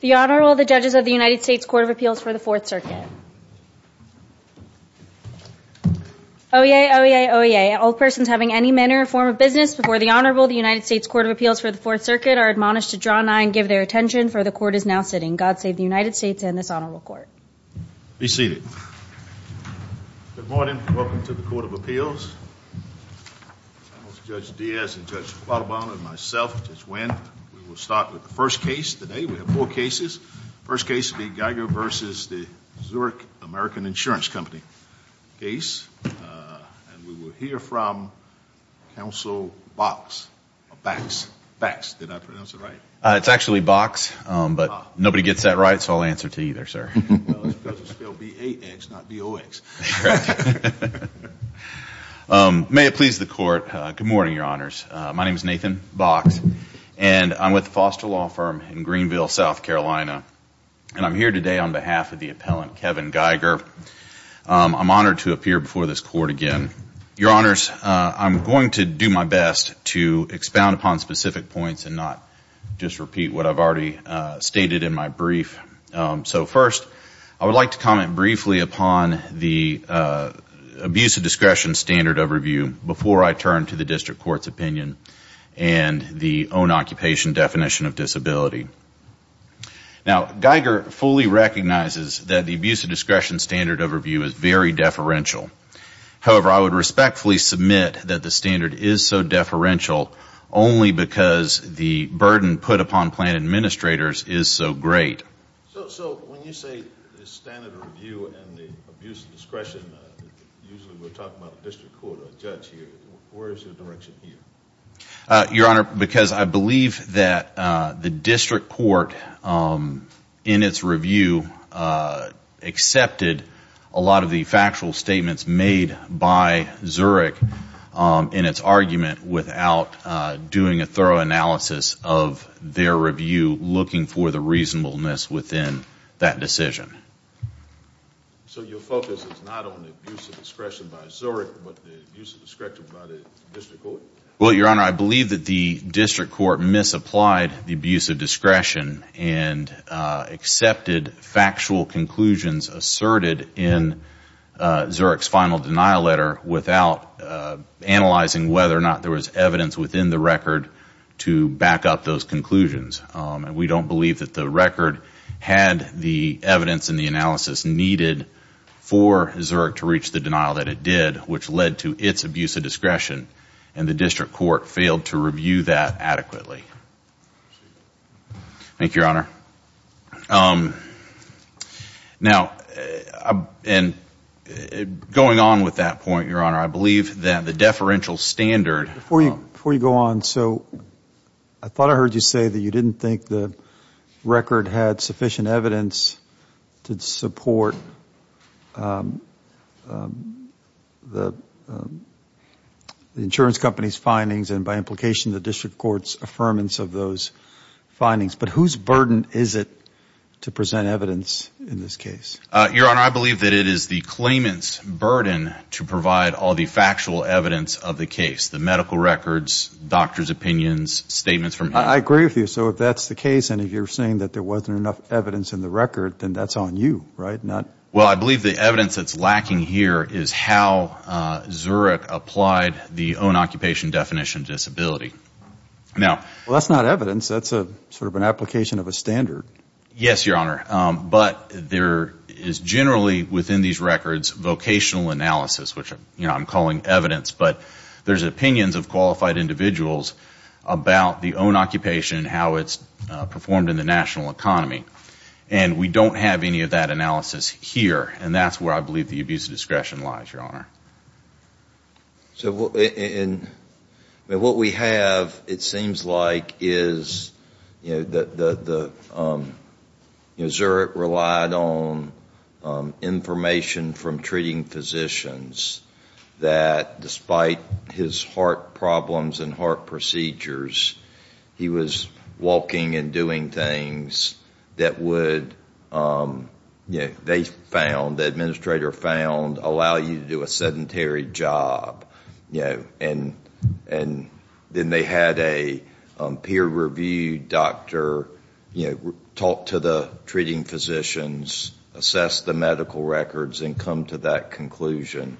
The Honorable, the Judges of the United States Court of Appeals for the Fourth Circuit. OEA, OEA, OEA, all persons having any manner or form of business before the Honorable, the United States Court of Appeals for the Fourth Circuit, are admonished to draw nigh and give their attention, for the Court is now sitting. God save the United States and this Honorable Court. Be seated. Good morning. Welcome to the Court of Appeals. I'm Judge Diaz and Judge Quattrobono and myself, Judge Wendt. We will start with the first case today. We have four cases. The first case will be Geiger v. Zurich American Insurance Company case. And we will hear from Counsel Box, or Bax, Bax, did I pronounce it right? It's actually Box, but nobody gets that right, so I'll answer to either, sir. Well, it's because it's spelled B-A-X, not B-O-X. May it please the Court. Good morning, Your Honors. My name is Nathan Box and I'm with the foster law firm in Greenville, South Carolina. And I'm here today on behalf of the appellant, Kevin Geiger. I'm honored to appear before this Court again. Your Honors, I'm going to do my best to expound upon specific points and not just repeat what I've already stated in my brief. So first, I would like to comment briefly upon the abuse of discretion standard overview before I turn to the District Court's opinion and the own occupation definition of disability. Now, Geiger fully recognizes that the abuse of discretion standard overview is very deferential. However, I would respectfully submit that the standard is so deferential only because the burden put upon plan administrators is so great. So when you say the standard review and the abuse of discretion, usually we're talking about the District Court or a judge here. Where is your direction here? Your Honor, because I believe that the District Court, in its review, accepted a lot of the factual statements made by Zurich in its argument without doing a thorough analysis of their review, looking for the reasonableness within that decision. So your focus is not on the abuse of discretion by Zurich, but the abuse of discretion by the District Court? Well, Your Honor, I believe that the District Court misapplied the abuse of discretion and accepted factual conclusions asserted in Zurich's final denial letter without analyzing whether or not there was evidence within the record to back up those conclusions. And we don't believe that the record had the evidence and the analysis needed for Zurich to reach the denial that it did, which led to its abuse of discretion. And the District Court failed to review that adequately. Thank you, Your Honor. Now, going on with that point, Your Honor, I believe that the deferential standard... Before you go on, I thought I heard you say that you didn't think the record had sufficient evidence to support the insurance company's findings and, by implication, the District Court's affirmance of those findings. But whose burden is it to present evidence in this case? Your Honor, I believe that it is the claimant's burden to provide all the factual evidence of the case, the medical records, doctor's opinions, statements from him. I agree with you. So if that's the case and if you're saying that there wasn't enough evidence in the record, then that's on you, right? Well, I believe the evidence that's lacking here is how Zurich applied the own-occupation definition disability. Well, that's not evidence. That's sort of an application of a standard. Yes, Your Honor. But there is generally within these records vocational analysis, which I'm calling evidence, but there's opinions of qualified individuals about the own-occupation and how it's performed in the national economy. And we don't have any of that analysis here. And that's where I believe the abuse of discretion lies, Your Honor. So what we have, it seems like, is that Zurich relied on information from treating physicians that despite his heart problems and heart procedures, he was walking and doing things that would, you know, they found, the administrator found, allow you to do a sedentary job. And then they had a peer-reviewed doctor talk to the treating physicians, assess the medical records, and come to that conclusion.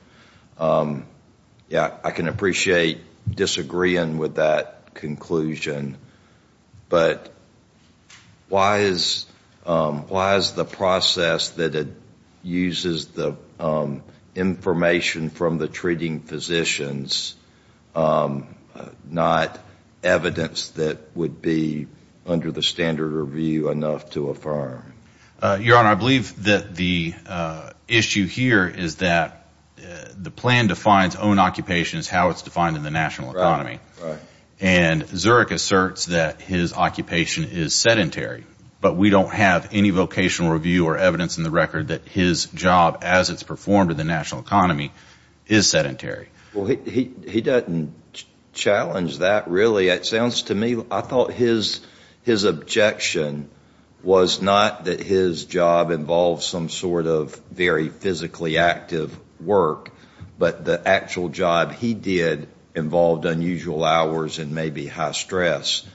Yeah, I can appreciate disagreeing with that conclusion, but why is the process that uses the information from the treating physicians not evidence that would be under the standard review enough to affirm? Your Honor, I believe that the issue here is that the plan defines own-occupation as how it's defined in the national economy. Right, right. And Zurich asserts that his occupation is sedentary, but we don't have any vocational review or evidence in the record that his job, as it's performed in the national economy, is sedentary. Well, he doesn't challenge that, really. It sounds to me, I thought his objection was not that his job involved some sort of very physically active work, but the actual job he did involved unusual hours and maybe high stress.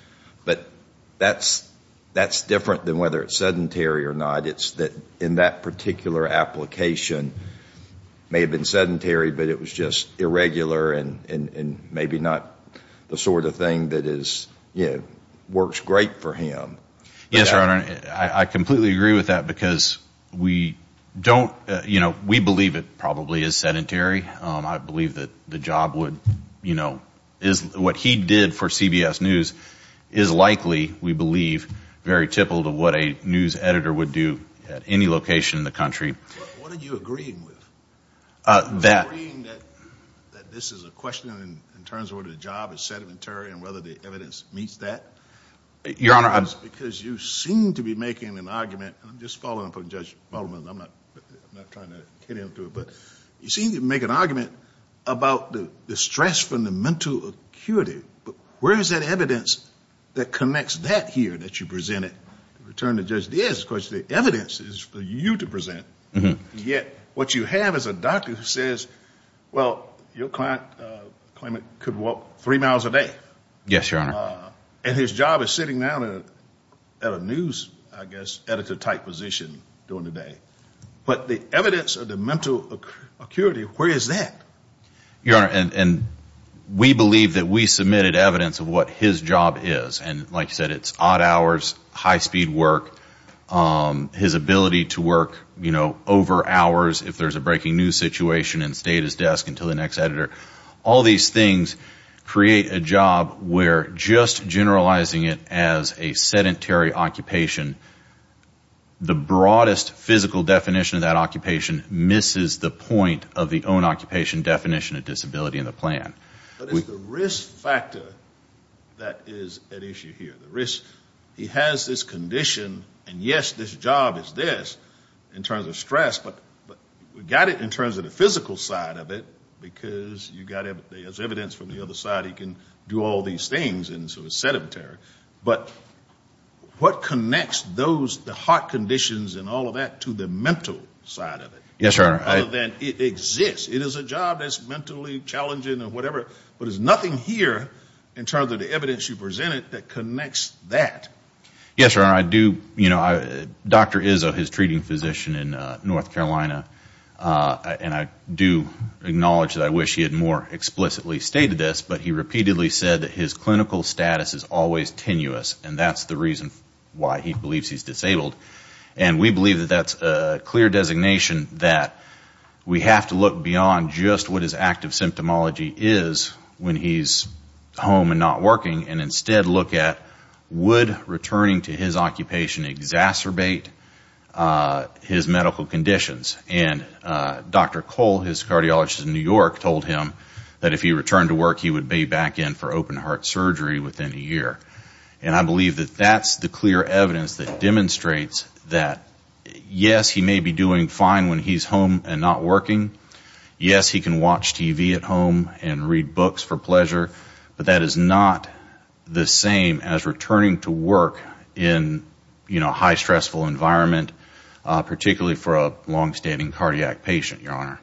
But that's different than whether it's sedentary or not. It's that in that particular application, it may have been sedentary, but it was just irregular and maybe not the sort of thing that works great for him. Yes, Your Honor. I completely agree with that because we don't, you know, we believe it probably is sedentary. I believe that the job would, you know, is what he did for CBS News is likely, we believe, very typical to what a news editor would do at any location in the country. What are you agreeing with? That. Are you agreeing that this is a question in terms of whether the job is sedentary and whether the evidence meets that? Your Honor, I'm. Because you seem to be making an argument. I'm just following up on Judge Baldwin. I'm not trying to get into it. But you seem to make an argument about the stress from the mental acuity. But where is that evidence that connects that here that you presented? To return to Judge Diaz, of course, the evidence is for you to present. Yet what you have is a doctor who says, well, your client could walk three miles a day. Yes, Your Honor. And his job is sitting down at a news, I guess, editor-type position during the day. But the evidence of the mental acuity, where is that? Your Honor, and we believe that we submitted evidence of what his job is. And like you said, it's odd hours, high-speed work, his ability to work, you know, over hours if there's a breaking news situation and stay at his desk until the next editor. All these things create a job where just generalizing it as a sedentary occupation, the broadest physical definition of that occupation misses the point of the own occupation definition of disability in the plan. But it's the risk factor that is at issue here, the risk. He has this condition, and yes, this job is this in terms of stress. But we got it in terms of the physical side of it because you got evidence from the other side, he can do all these things, and so it's sedentary. But what connects those, the heart conditions and all of that to the mental side of it? Yes, Your Honor. Other than it exists. It is a job that's mentally challenging or whatever, but there's nothing here in terms of the evidence you presented that connects that. Yes, Your Honor. I do, you know, Dr. Izzo, his treating physician in North Carolina, and I do acknowledge that I wish he had more explicitly stated this, but he repeatedly said that his clinical status is always tenuous, and that's the reason why he believes he's disabled. And we believe that that's a clear designation that we have to look beyond just what his active symptomology is when he's home and not working, and instead look at, would returning to his occupation exacerbate his medical conditions? And Dr. Cole, his cardiologist in New York, told him that if he returned to work, he would be back in for open-heart surgery within a year. And I believe that that's the clear evidence that demonstrates that, yes, he may be doing fine when he's home and not working. Yes, he can watch TV at home and read books for pleasure, but that is not the same as returning to work in a high-stressful environment, particularly for a longstanding cardiac patient, Your Honor.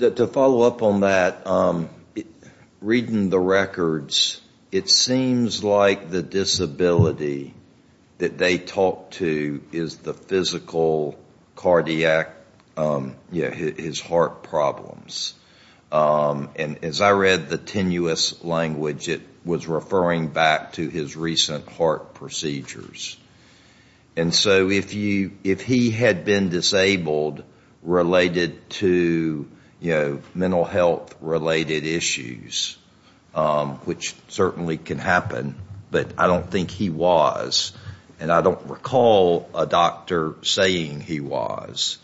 To follow up on that, reading the records, it seems like the disability that they talk to is the physical cardiac, his heart problems. And as I read the tenuous language, it was referring back to his recent heart procedures. And so if he had been disabled related to mental health-related issues, which certainly can happen, but I don't think he was. And I don't recall a doctor saying he was.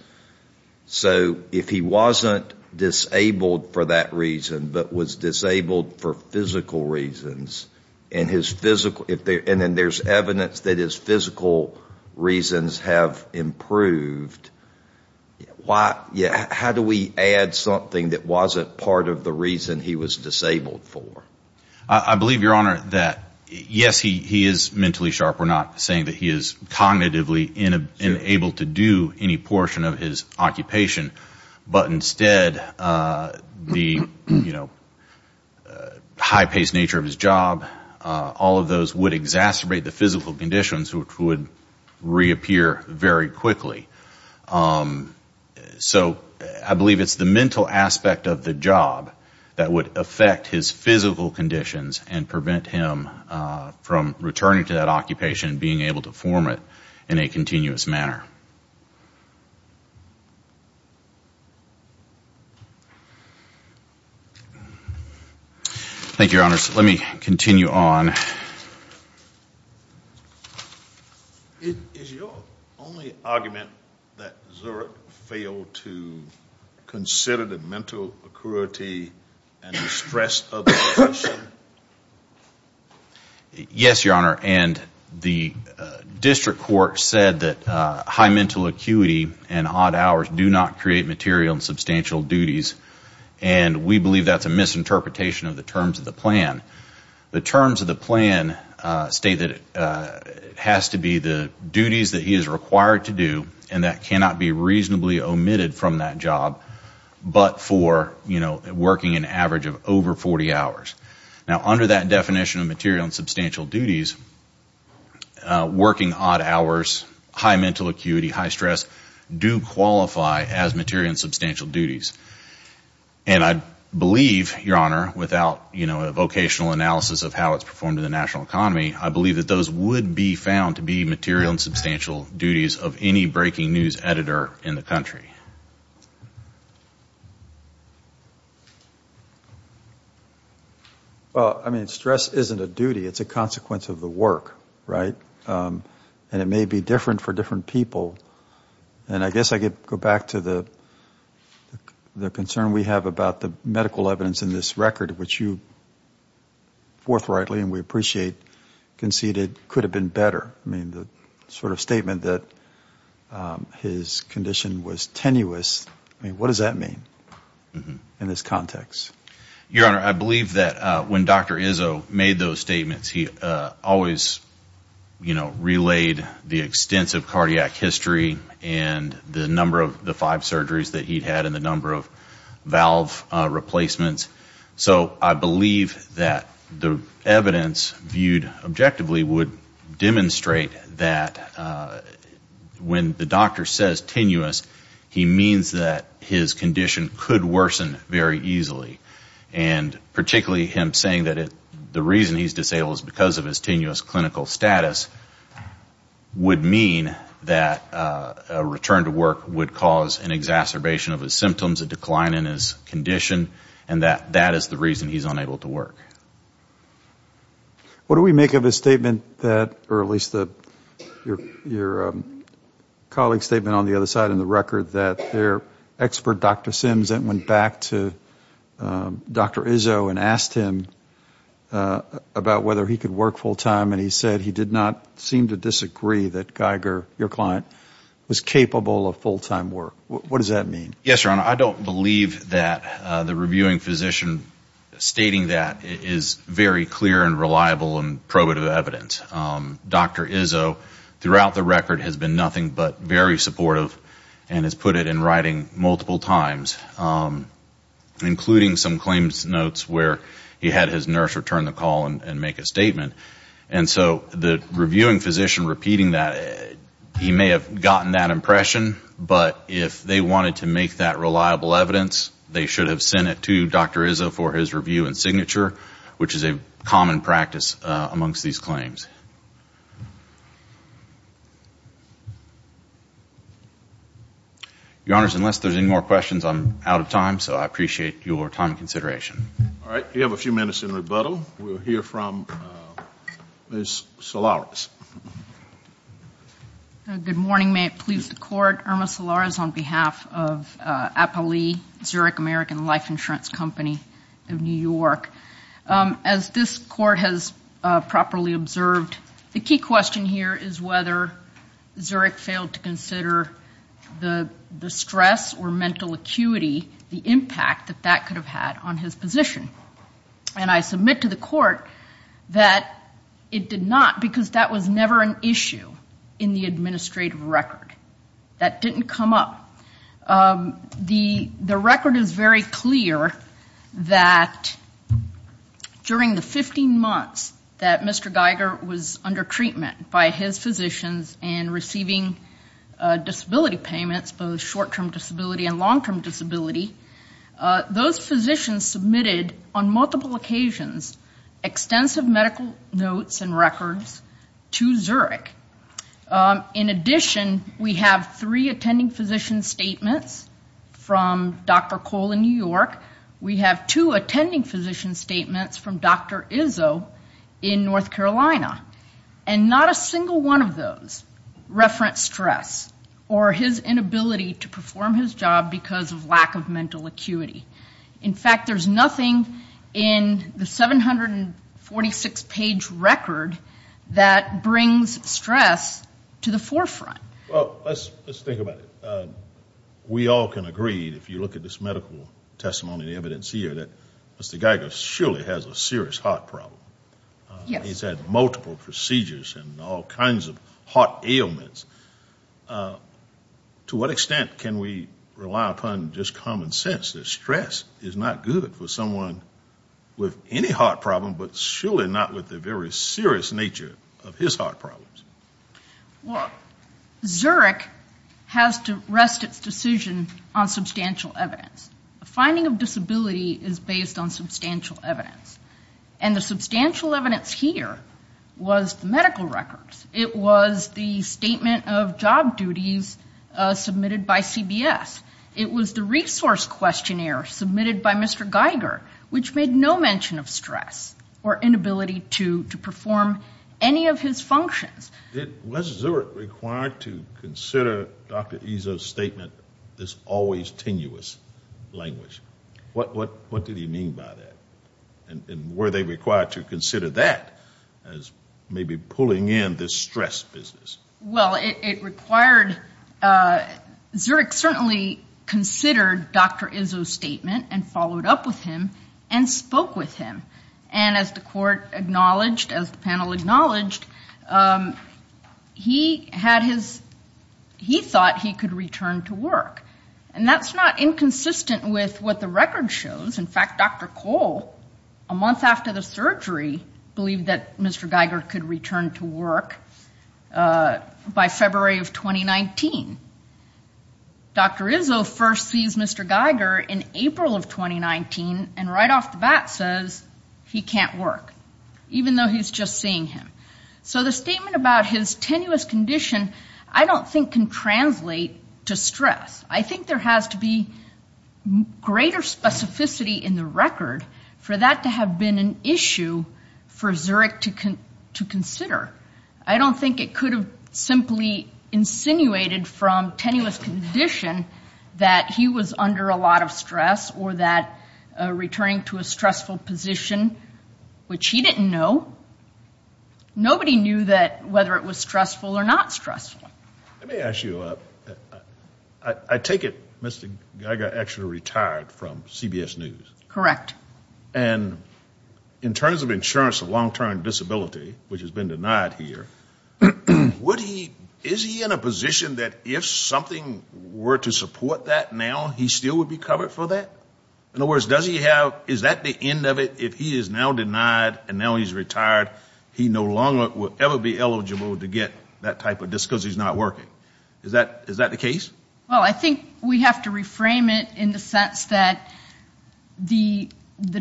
So if he wasn't disabled for that reason, but was disabled for physical reasons, and then there's evidence that his physical reasons have improved, how do we add something that wasn't part of the reason he was disabled for? I believe, Your Honor, that yes, he is mentally sharp. We're not saying that he is cognitively unable to do any portion of his occupation. But instead, the high-paced nature of his job, all of those would exacerbate the physical conditions, which would reappear very quickly. So I believe it's the mental aspect of the job that would affect his physical conditions and prevent him from returning to that occupation and being able to form it in a continuous manner. Thank you, Your Honor. Thank you, Your Honors. Let me continue on. Is your only argument that Zurich failed to consider the mental acuity and distress of the patient? Yes, Your Honor. The district court said that high mental acuity and odd hours do not create material and substantial duties, and we believe that's a misinterpretation of the terms of the plan. The terms of the plan state that it has to be the duties that he is required to do, and that cannot be reasonably omitted from that job but for working an average of over 40 hours. Now, under that definition of material and substantial duties, working odd hours, high mental acuity, high stress do qualify as material and substantial duties. And I believe, Your Honor, without a vocational analysis of how it's performed in the national economy, I believe that those would be found to be material and substantial duties of any breaking news editor in the country. Well, I mean, stress isn't a duty. It's a consequence of the work, right? And it may be different for different people. And I guess I could go back to the concern we have about the medical evidence in this record, which you forthrightly and we appreciate conceded could have been better. I mean, the sort of statement that his condition was tenuous, I mean, what does that mean in this context? Your Honor, I believe that when Dr. Izzo made those statements, he always, you know, relayed the extensive cardiac history and the number of the five surgeries that he'd had and the number of valve replacements. So I believe that the evidence viewed objectively would demonstrate that when the doctor says tenuous, he means that his condition could worsen very easily. And particularly him saying that the reason he's disabled is because of his tenuous clinical status would mean that a return to work would cause an exacerbation of his symptoms, a decline in his condition, and that that is the reason he's unable to work. What do we make of his statement that, or at least your colleague's statement on the other side of the record, that their expert, Dr. Sims, went back to Dr. Izzo and asked him about whether he could work full time and he said he did not seem to disagree that Geiger, your client, was capable of full-time work. What does that mean? Yes, Your Honor, I don't believe that the reviewing physician stating that is very clear and reliable and probative evidence. Dr. Izzo, throughout the record, has been nothing but very supportive and has put it in writing multiple times, including some claims notes where he had his nurse return the call and make a statement. And so the reviewing physician repeating that, he may have gotten that impression, but if they wanted to make that reliable evidence, they should have sent it to Dr. Izzo for his review and signature, which is a common practice amongst these claims. Your Honors, unless there's any more questions, I'm out of time, so I appreciate your time and consideration. All right, we have a few minutes in rebuttal. We'll hear from Ms. Solares. Good morning. May it please the Court. Irma Solares on behalf of APALE, Zurich American Life Insurance Company of New York. As this Court has properly observed, the key question here is whether Zurich failed to consider the stress or mental acuity, the impact that that could have had on his position. And I submit to the Court that it did not because that was never an issue in the administrative record. That didn't come up. The record is very clear that during the 15 months that Mr. Geiger was under treatment by his physicians and receiving disability payments, both short-term disability and long-term disability, those physicians submitted on multiple occasions extensive medical notes and records to Zurich. In addition, we have three attending physician statements from Dr. Cole in New York. We have two attending physician statements from Dr. Izzo in North Carolina. And not a single one of those referenced stress or his inability to perform his job because of lack of mental acuity. In fact, there's nothing in the 746-page record that brings stress to the forefront. Well, let's think about it. We all can agree, if you look at this medical testimony and evidence here, that Mr. Geiger surely has a serious heart problem. He's had multiple procedures and all kinds of heart ailments. To what extent can we rely upon just common sense that stress is not good for someone with any heart problem but surely not with the very serious nature of his heart problems? Well, Zurich has to rest its decision on substantial evidence. The finding of disability is based on substantial evidence. And the substantial evidence here was medical records. It was the statement of job duties submitted by CBS. It was the resource questionnaire submitted by Mr. Geiger, which made no mention of stress or inability to perform any of his functions. Was Zurich required to consider Dr. Izzo's statement, this always tenuous language? What did he mean by that? And were they required to consider that as maybe pulling in this stress business? Well, it required Zurich certainly considered Dr. Izzo's statement and followed up with him and spoke with him. And as the court acknowledged, as the panel acknowledged, he thought he could return to work. And that's not inconsistent with what the record shows. In fact, Dr. Cole, a month after the surgery, believed that Mr. Geiger could return to work by February of 2019. Dr. Izzo first sees Mr. Geiger in April of 2019 and right off the bat says he can't work, even though he's just seeing him. So the statement about his tenuous condition I don't think can translate to stress. I think there has to be greater specificity in the record for that to have been an issue for Zurich to consider. I don't think it could have simply insinuated from tenuous condition that he was under a lot of stress or that returning to a stressful position, which he didn't know. Nobody knew whether it was stressful or not stressful. Let me ask you, I take it Mr. Geiger actually retired from CBS News. Correct. And in terms of insurance of long-term disability, which has been denied here, is he in a position that if something were to support that now, he still would be covered for that? In other words, is that the end of it? If he is now denied and now he's retired, he no longer will ever be eligible to get that type of disc because he's not working. Is that the case? Well, I think we have to reframe it in the sense that the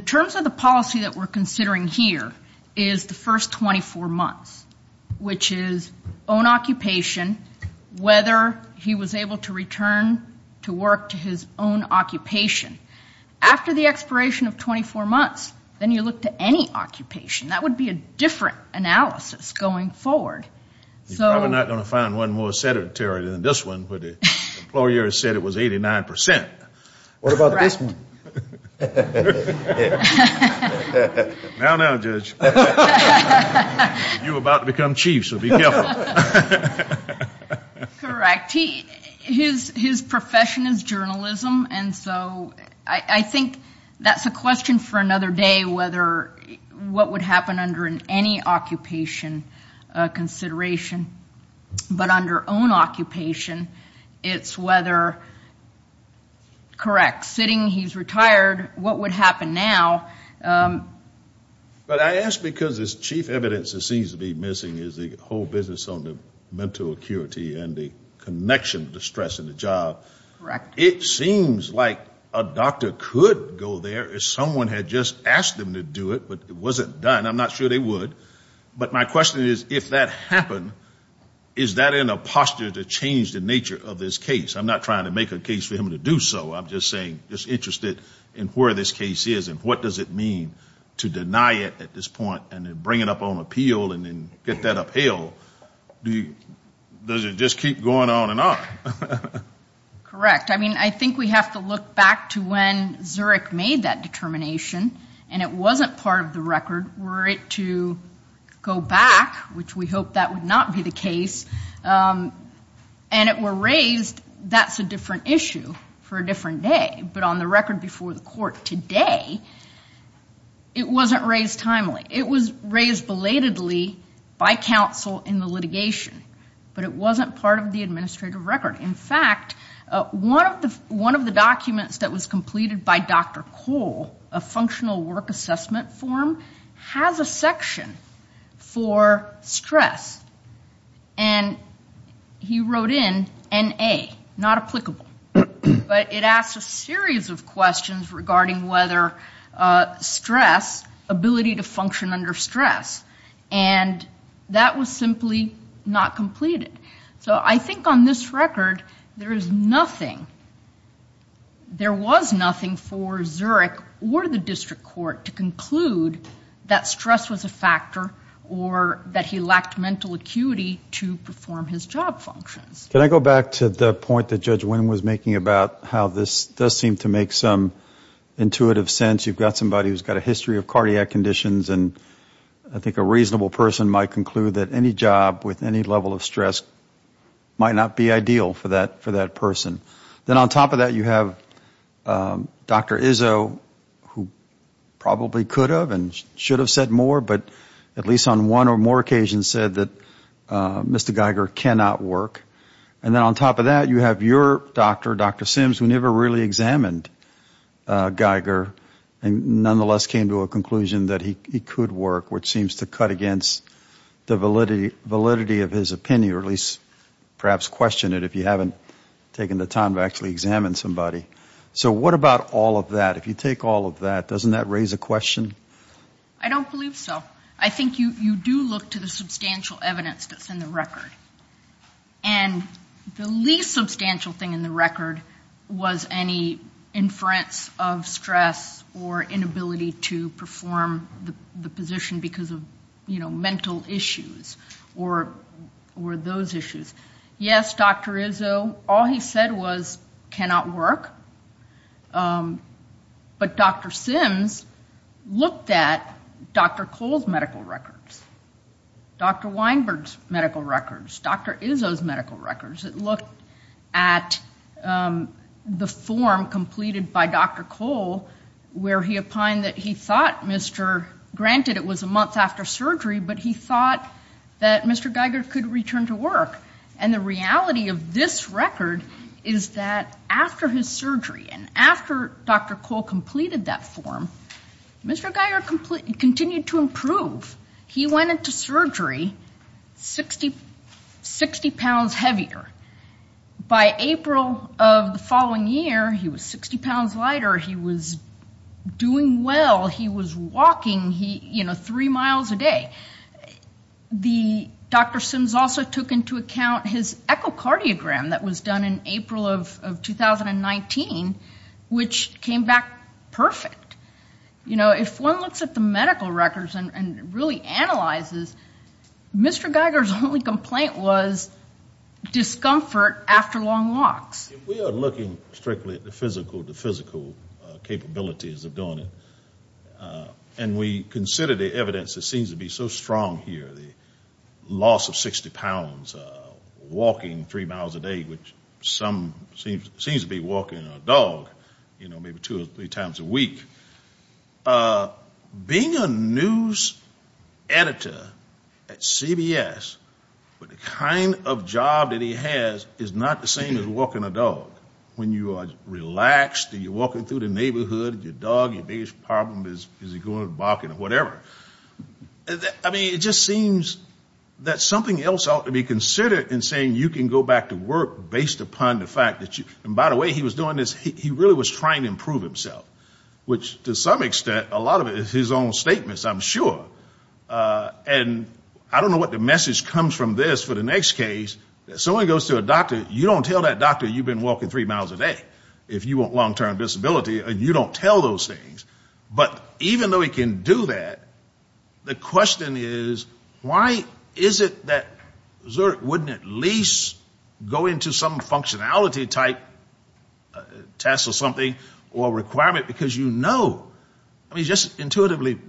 terms of the policy that we're considering here is the first 24 months, which is own occupation, whether he was able to return to work to his own occupation. After the expiration of 24 months, then you look to any occupation. That would be a different analysis going forward. You're probably not going to find one more sedentary than this one where the employer said it was 89%. What about this one? Now, now, Judge. You're about to become chief, so be careful. Correct. His profession is journalism, and so I think that's a question for another day, whether what would happen under any occupation consideration. But under own occupation, it's whether, correct, sitting he's retired, what would happen now? But I ask because this chief evidence that seems to be missing is the whole business on the mental acuity and the connection to stress in the job. Correct. It seems like a doctor could go there if someone had just asked them to do it, but it wasn't done. I'm not sure they would. But my question is, if that happened, is that in a posture to change the nature of this case? I'm not trying to make a case for him to do so. I'm just saying, just interested in where this case is and what does it mean to deny it at this point and then bring it up on appeal and then get that upheld. Does it just keep going on and on? Correct. I mean, I think we have to look back to when Zurich made that determination, and it wasn't part of the record were it to go back, which we hope that would not be the case, and it were raised, that's a different issue for a different day. But on the record before the court today, it wasn't raised timely. It was raised belatedly by counsel in the litigation, but it wasn't part of the administrative record. In fact, one of the documents that was completed by Dr. Cole, a functional work assessment form, has a section for stress, and he wrote in NA, not applicable. But it asks a series of questions regarding whether stress, ability to function under stress, and that was simply not completed. So I think on this record, there is nothing, there was nothing for Zurich or the district court to conclude that stress was a factor or that he lacked mental acuity to perform his job functions. Can I go back to the point that Judge Winn was making about how this does seem to make some intuitive sense? You've got somebody who's got a history of cardiac conditions, and I think a reasonable person might conclude that any job with any level of stress might not be ideal for that person. Then on top of that, you have Dr. Izzo, who probably could have and should have said more, but at least on one or more occasions said that Mr. Geiger cannot work. And then on top of that, you have your doctor, Dr. Sims, who never really examined Geiger and nonetheless came to a conclusion that he could work, which seems to cut against the validity of his opinion, or at least perhaps question it if you haven't taken the time to actually examine somebody. So what about all of that? If you take all of that, doesn't that raise a question? I don't believe so. I think you do look to the substantial evidence that's in the record. And the least substantial thing in the record was any inference of stress or inability to perform the position because of, you know, mental issues or those issues. Yes, Dr. Izzo, all he said was cannot work. But Dr. Sims looked at Dr. Cole's medical records, Dr. Weinberg's medical records, Dr. Izzo's medical records. It looked at the form completed by Dr. Cole where he opined that he thought Mr. – granted it was a month after surgery, but he thought that Mr. Geiger could return to work. And the reality of this record is that after his surgery and after Dr. Cole completed that form, Mr. Geiger continued to improve. He went into surgery 60 pounds heavier. By April of the following year, he was 60 pounds lighter. He was doing well. The – Dr. Sims also took into account his echocardiogram that was done in April of 2019, which came back perfect. You know, if one looks at the medical records and really analyzes, Mr. Geiger's only complaint was discomfort after long walks. We are looking strictly at the physical capabilities of doing it. And we consider the evidence that seems to be so strong here, the loss of 60 pounds, walking three miles a day, which some seems to be walking a dog, you know, maybe two or three times a week. Being a news editor at CBS with the kind of job that he has is not the same as walking a dog. When you are relaxed and you're walking through the neighborhood, your dog, your biggest problem is is he going barking or whatever. I mean, it just seems that something else ought to be considered in saying you can go back to work based upon the fact that you – and by the way, he was doing this – he really was trying to improve himself, which to some extent, a lot of it is his own statements, I'm sure. And I don't know what the message comes from this for the next case. If someone goes to a doctor, you don't tell that doctor you've been walking three miles a day if you want long-term disability. You don't tell those things. But even though he can do that, the question is why is it that Zerk wouldn't at least go into some functionality type test or something or requirement because you know, I mean, just intuitively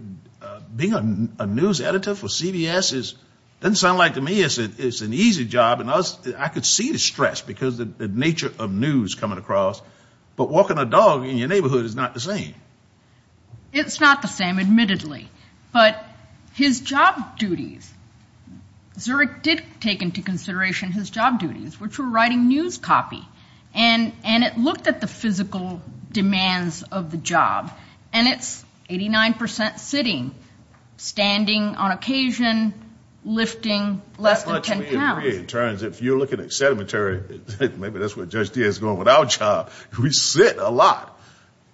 being a news editor for CBS doesn't sound like to me it's an easy job. And I could see the stress because of the nature of news coming across. But walking a dog in your neighborhood is not the same. It's not the same, admittedly. But his job duties, Zerk did take into consideration his job duties, which were writing news copy. And it looked at the physical demands of the job. And it's 89 percent sitting, standing on occasion, lifting less than 10 pounds. It turns out if you're looking at sedimentary, maybe that's where Judge Diaz is going with our job. We sit a lot.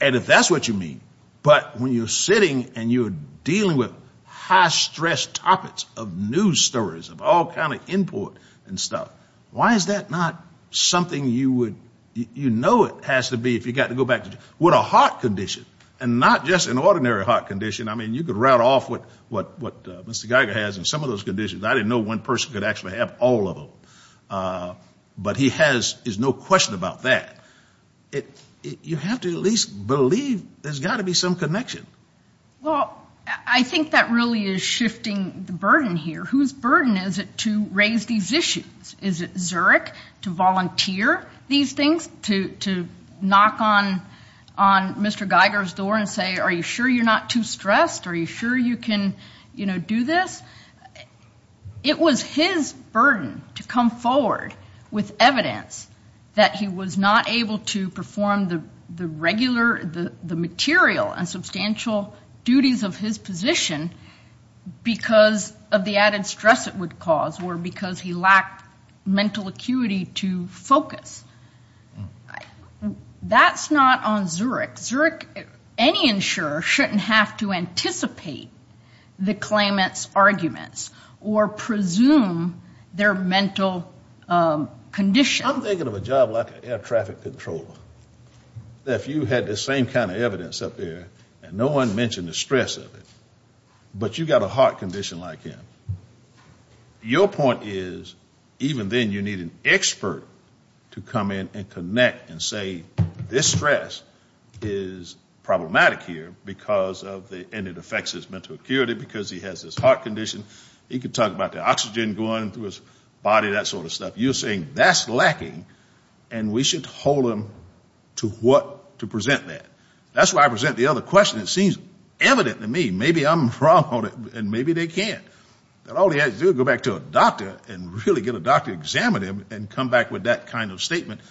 And if that's what you mean, but when you're sitting and you're dealing with high-stress topics of news stories, of all kind of input and stuff, why is that not something you would, you know it has to be if you've got to go back to, with a heart condition and not just an ordinary heart condition. I mean, you could route off what Mr. Geiger has and some of those conditions. I didn't know one person could actually have all of them. But he has, there's no question about that. You have to at least believe there's got to be some connection. Well, I think that really is shifting the burden here. Whose burden is it to raise these issues? Is it Zerk to volunteer these things, to knock on Mr. Geiger's door and say, are you sure you're not too stressed? Are you sure you can, you know, do this? It was his burden to come forward with evidence that he was not able to perform the regular, the material and substantial duties of his position because of the added stress it would cause or because he lacked mental acuity to focus. That's not on Zerk. Any insurer shouldn't have to anticipate the claimant's arguments or presume their mental condition. I'm thinking of a job like an air traffic controller. If you had the same kind of evidence up there and no one mentioned the stress of it, but you've got a heart condition like him, your point is even then you need an expert to come in and connect and say this stress is problematic here and it affects his mental acuity because he has this heart condition. He could talk about the oxygen going through his body, that sort of stuff. You're saying that's lacking and we should hold him to what to present that. That's why I present the other question. It seems evident to me maybe I'm wrong and maybe they can't. All he has to do is go back to a doctor and really get a doctor to examine him and come back with that kind of statement.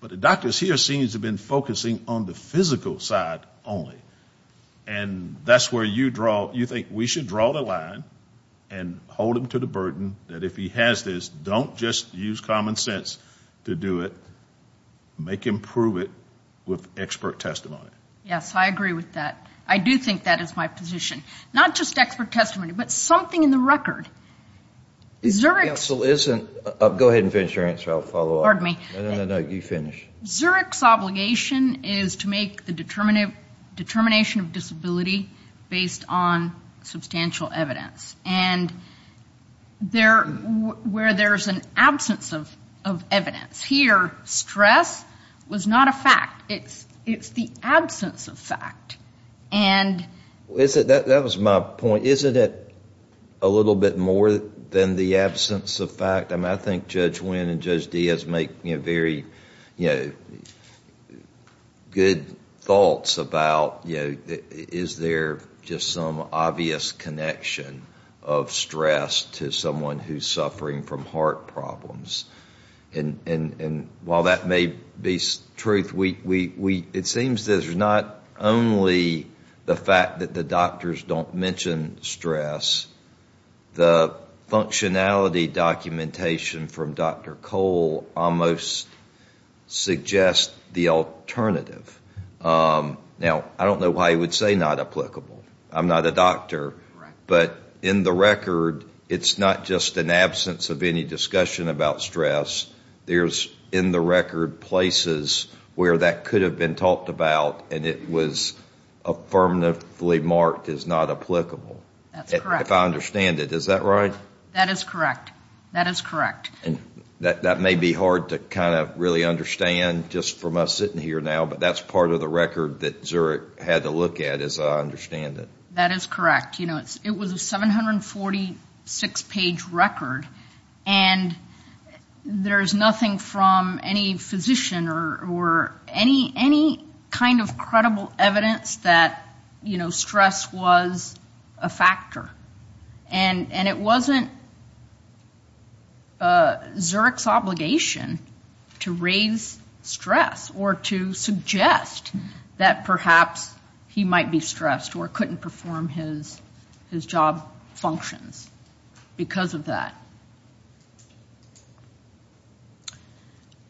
But the doctors here seem to have been focusing on the physical side only. And that's where you draw, you think we should draw the line and hold him to the burden that if he has this, don't just use common sense to do it. Make him prove it with expert testimony. Yes, I agree with that. I do think that is my position. Not just expert testimony but something in the record. Go ahead and finish your answer, I'll follow up. Pardon me. No, no, no, you finish. Zurich's obligation is to make the determination of disability based on substantial evidence. And where there's an absence of evidence. It's the absence of fact. That was my point. Isn't it a little bit more than the absence of fact? I think Judge Wynn and Judge Diaz make very good thoughts about is there just some obvious connection of stress to someone who's suffering from heart problems. And while that may be truth, it seems there's not only the fact that the doctors don't mention stress. The functionality documentation from Dr. Cole almost suggests the alternative. Now, I don't know why he would say not applicable. I'm not a doctor. But in the record, it's not just an absence of any discussion about stress. There's in the record places where that could have been talked about and it was affirmatively marked as not applicable. That's correct. If I understand it. Is that right? That is correct. That is correct. That may be hard to kind of really understand just from us sitting here now. But that's part of the record that Zurich had to look at as I understand it. That is correct. It was a 746-page record and there's nothing from any physician or any kind of credible evidence that stress was a factor. And it wasn't Zurich's obligation to raise stress or to suggest that perhaps he might be stressed or couldn't perform his job functions because of that.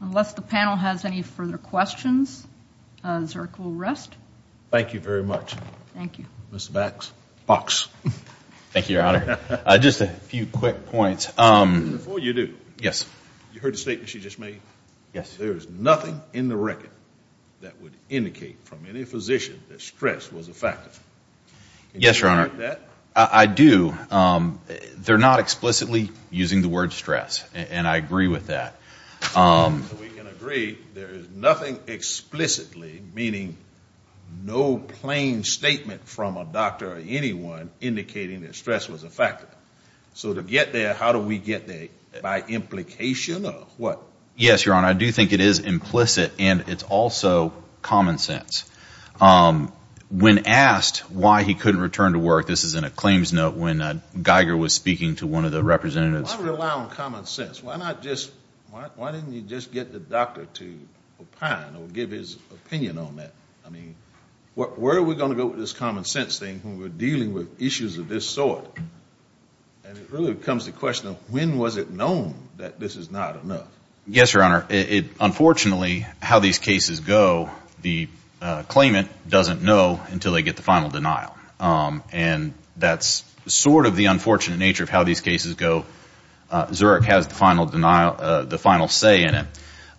Unless the panel has any further questions, Zurich will rest. Thank you very much. Thank you. Mr. Bax. Box. Thank you, Your Honor. Just a few quick points. Before you do. Yes. You heard the statement she just made? Yes. That is, there is nothing in the record that would indicate from any physician that stress was a factor. Yes, Your Honor. Did you hear that? I do. They're not explicitly using the word stress, and I agree with that. We can agree there is nothing explicitly, meaning no plain statement from a doctor or anyone indicating that stress was a factor. So to get there, how do we get there? By implication of what? Yes, Your Honor. I do think it is implicit, and it's also common sense. When asked why he couldn't return to work, this is in a claims note, when Geiger was speaking to one of the representatives. Why rely on common sense? Why not just, why didn't he just get the doctor to opine or give his opinion on that? I mean, where are we going to go with this common sense thing when we're dealing with issues of this sort? And it really becomes the question of when was it known that this is not enough? Yes, Your Honor. Unfortunately, how these cases go, the claimant doesn't know until they get the final denial. And that's sort of the unfortunate nature of how these cases go. Zurich has the final denial, the final say in it.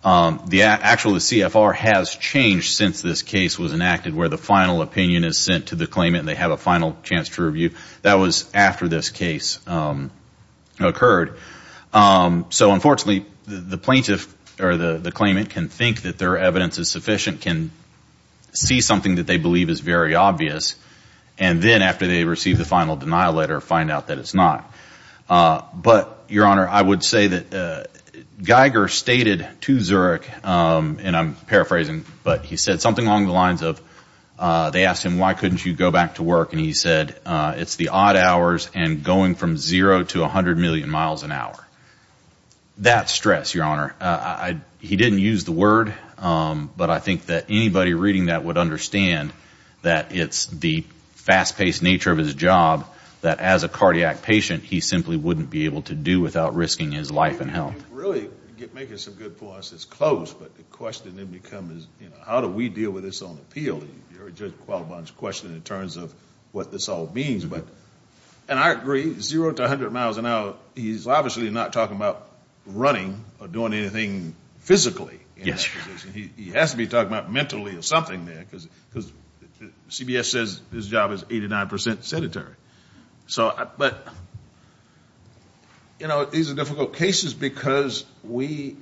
The actual CFR has changed since this case was enacted, where the final opinion is sent to the claimant and they have a final chance to review. That was after this case occurred. So unfortunately, the plaintiff or the claimant can think that their evidence is sufficient, can see something that they believe is very obvious, and then after they receive the final denial letter find out that it's not. But, Your Honor, I would say that Geiger stated to Zurich, and I'm paraphrasing, but he said something along the lines of they asked him why couldn't you go back to work, and he said it's the odd hours and going from zero to 100 million miles an hour. That's stress, Your Honor. He didn't use the word, but I think that anybody reading that would understand that it's the fast-paced nature of his job that as a cardiac patient he simply wouldn't be able to do without risking his life and health. You're really making some good points. It's close, but the question then becomes how do we deal with this on appeal? You heard Judge Qualibon's question in terms of what this all means. And I agree, zero to 100 miles an hour, he's obviously not talking about running or doing anything physically in that position. He has to be talking about mentally or something there because CBS says his job is 89% sedentary. But, you know, these are difficult cases because we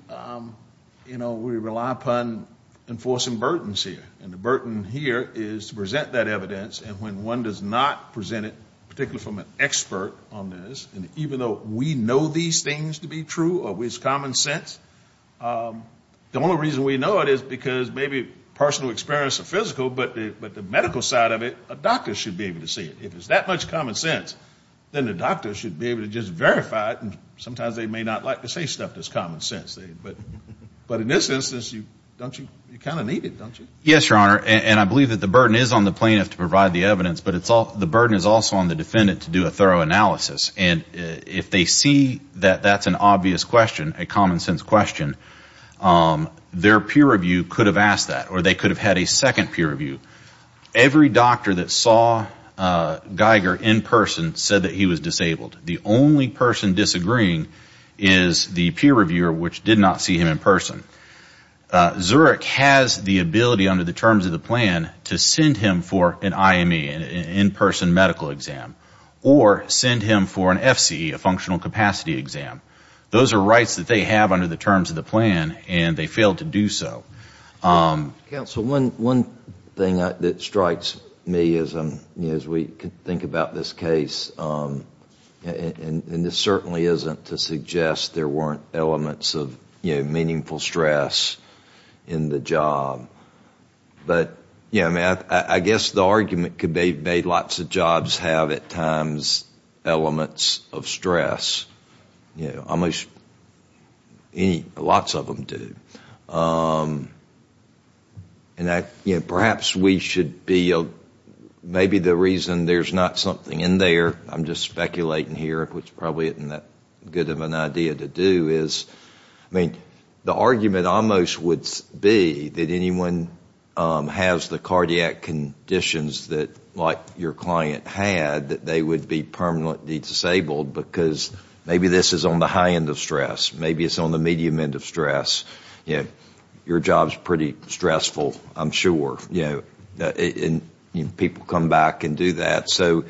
rely upon enforcing burdens here, and the burden here is to present that evidence, and when one does not present it, particularly from an expert on this, and even though we know these things to be true or it's common sense, the only reason we know it is because maybe personal experience or physical, but the medical side of it, a doctor should be able to see it. If it's that much common sense, then the doctor should be able to just verify it, and sometimes they may not like to say stuff that's common sense. But in this instance, you kind of need it, don't you? Yes, Your Honor, and I believe that the burden is on the plaintiff to provide the evidence, but the burden is also on the defendant to do a thorough analysis. And if they see that that's an obvious question, a common sense question, their peer review could have asked that or they could have had a second peer review. Every doctor that saw Geiger in person said that he was disabled. The only person disagreeing is the peer reviewer, which did not see him in person. Zurich has the ability under the terms of the plan to send him for an IME, an in-person medical exam, or send him for an FCE, a functional capacity exam. Those are rights that they have under the terms of the plan, and they failed to do so. Counsel, one thing that strikes me as we think about this case, and this certainly isn't to suggest there weren't elements of meaningful stress in the job, but I guess the argument could be lots of jobs have at times elements of stress. Almost lots of them do. And perhaps we should be, maybe the reason there's not something in there, I'm just speculating here, which probably isn't that good of an idea to do, is the argument almost would be that anyone has the cardiac conditions like your client had, that they would be permanently disabled because maybe this is on the high end of stress, maybe it's on the medium end of stress. Your job's pretty stressful, I'm sure, and people come back and do that. So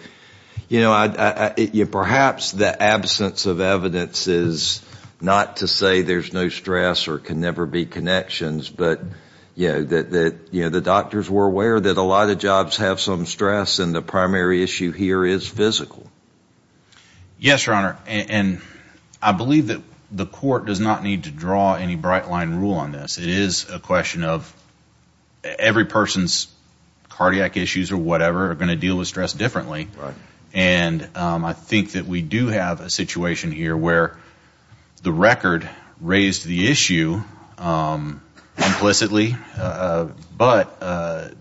perhaps the absence of evidence is not to say there's no stress or can never be connections, but that the doctors were aware that a lot of jobs have some stress, and the primary issue here is physical. Yes, Your Honor, and I believe that the court does not need to draw any bright-line rule on this. It is a question of every person's cardiac issues or whatever are going to deal with stress differently, and I think that we do have a situation here where the record raised the issue implicitly, but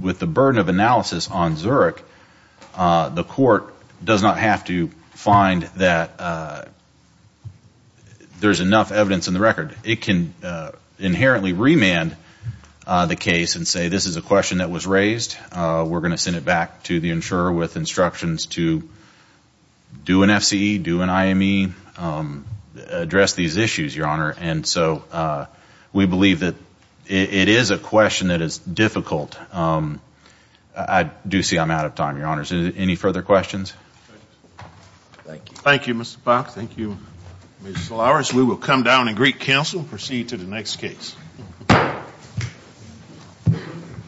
with the burden of analysis on Zurich, the court does not have to find that there's enough evidence in the record. It can inherently remand the case and say this is a question that was raised, we're going to send it back to the insurer with instructions to do an FCE, do an IME, address these issues, Your Honor. And so we believe that it is a question that is difficult. I do see I'm out of time, Your Honors. Any further questions? Thank you, Mr. Fox. Thank you, Ms. Solaris. We will come down and greet counsel and proceed to the next case.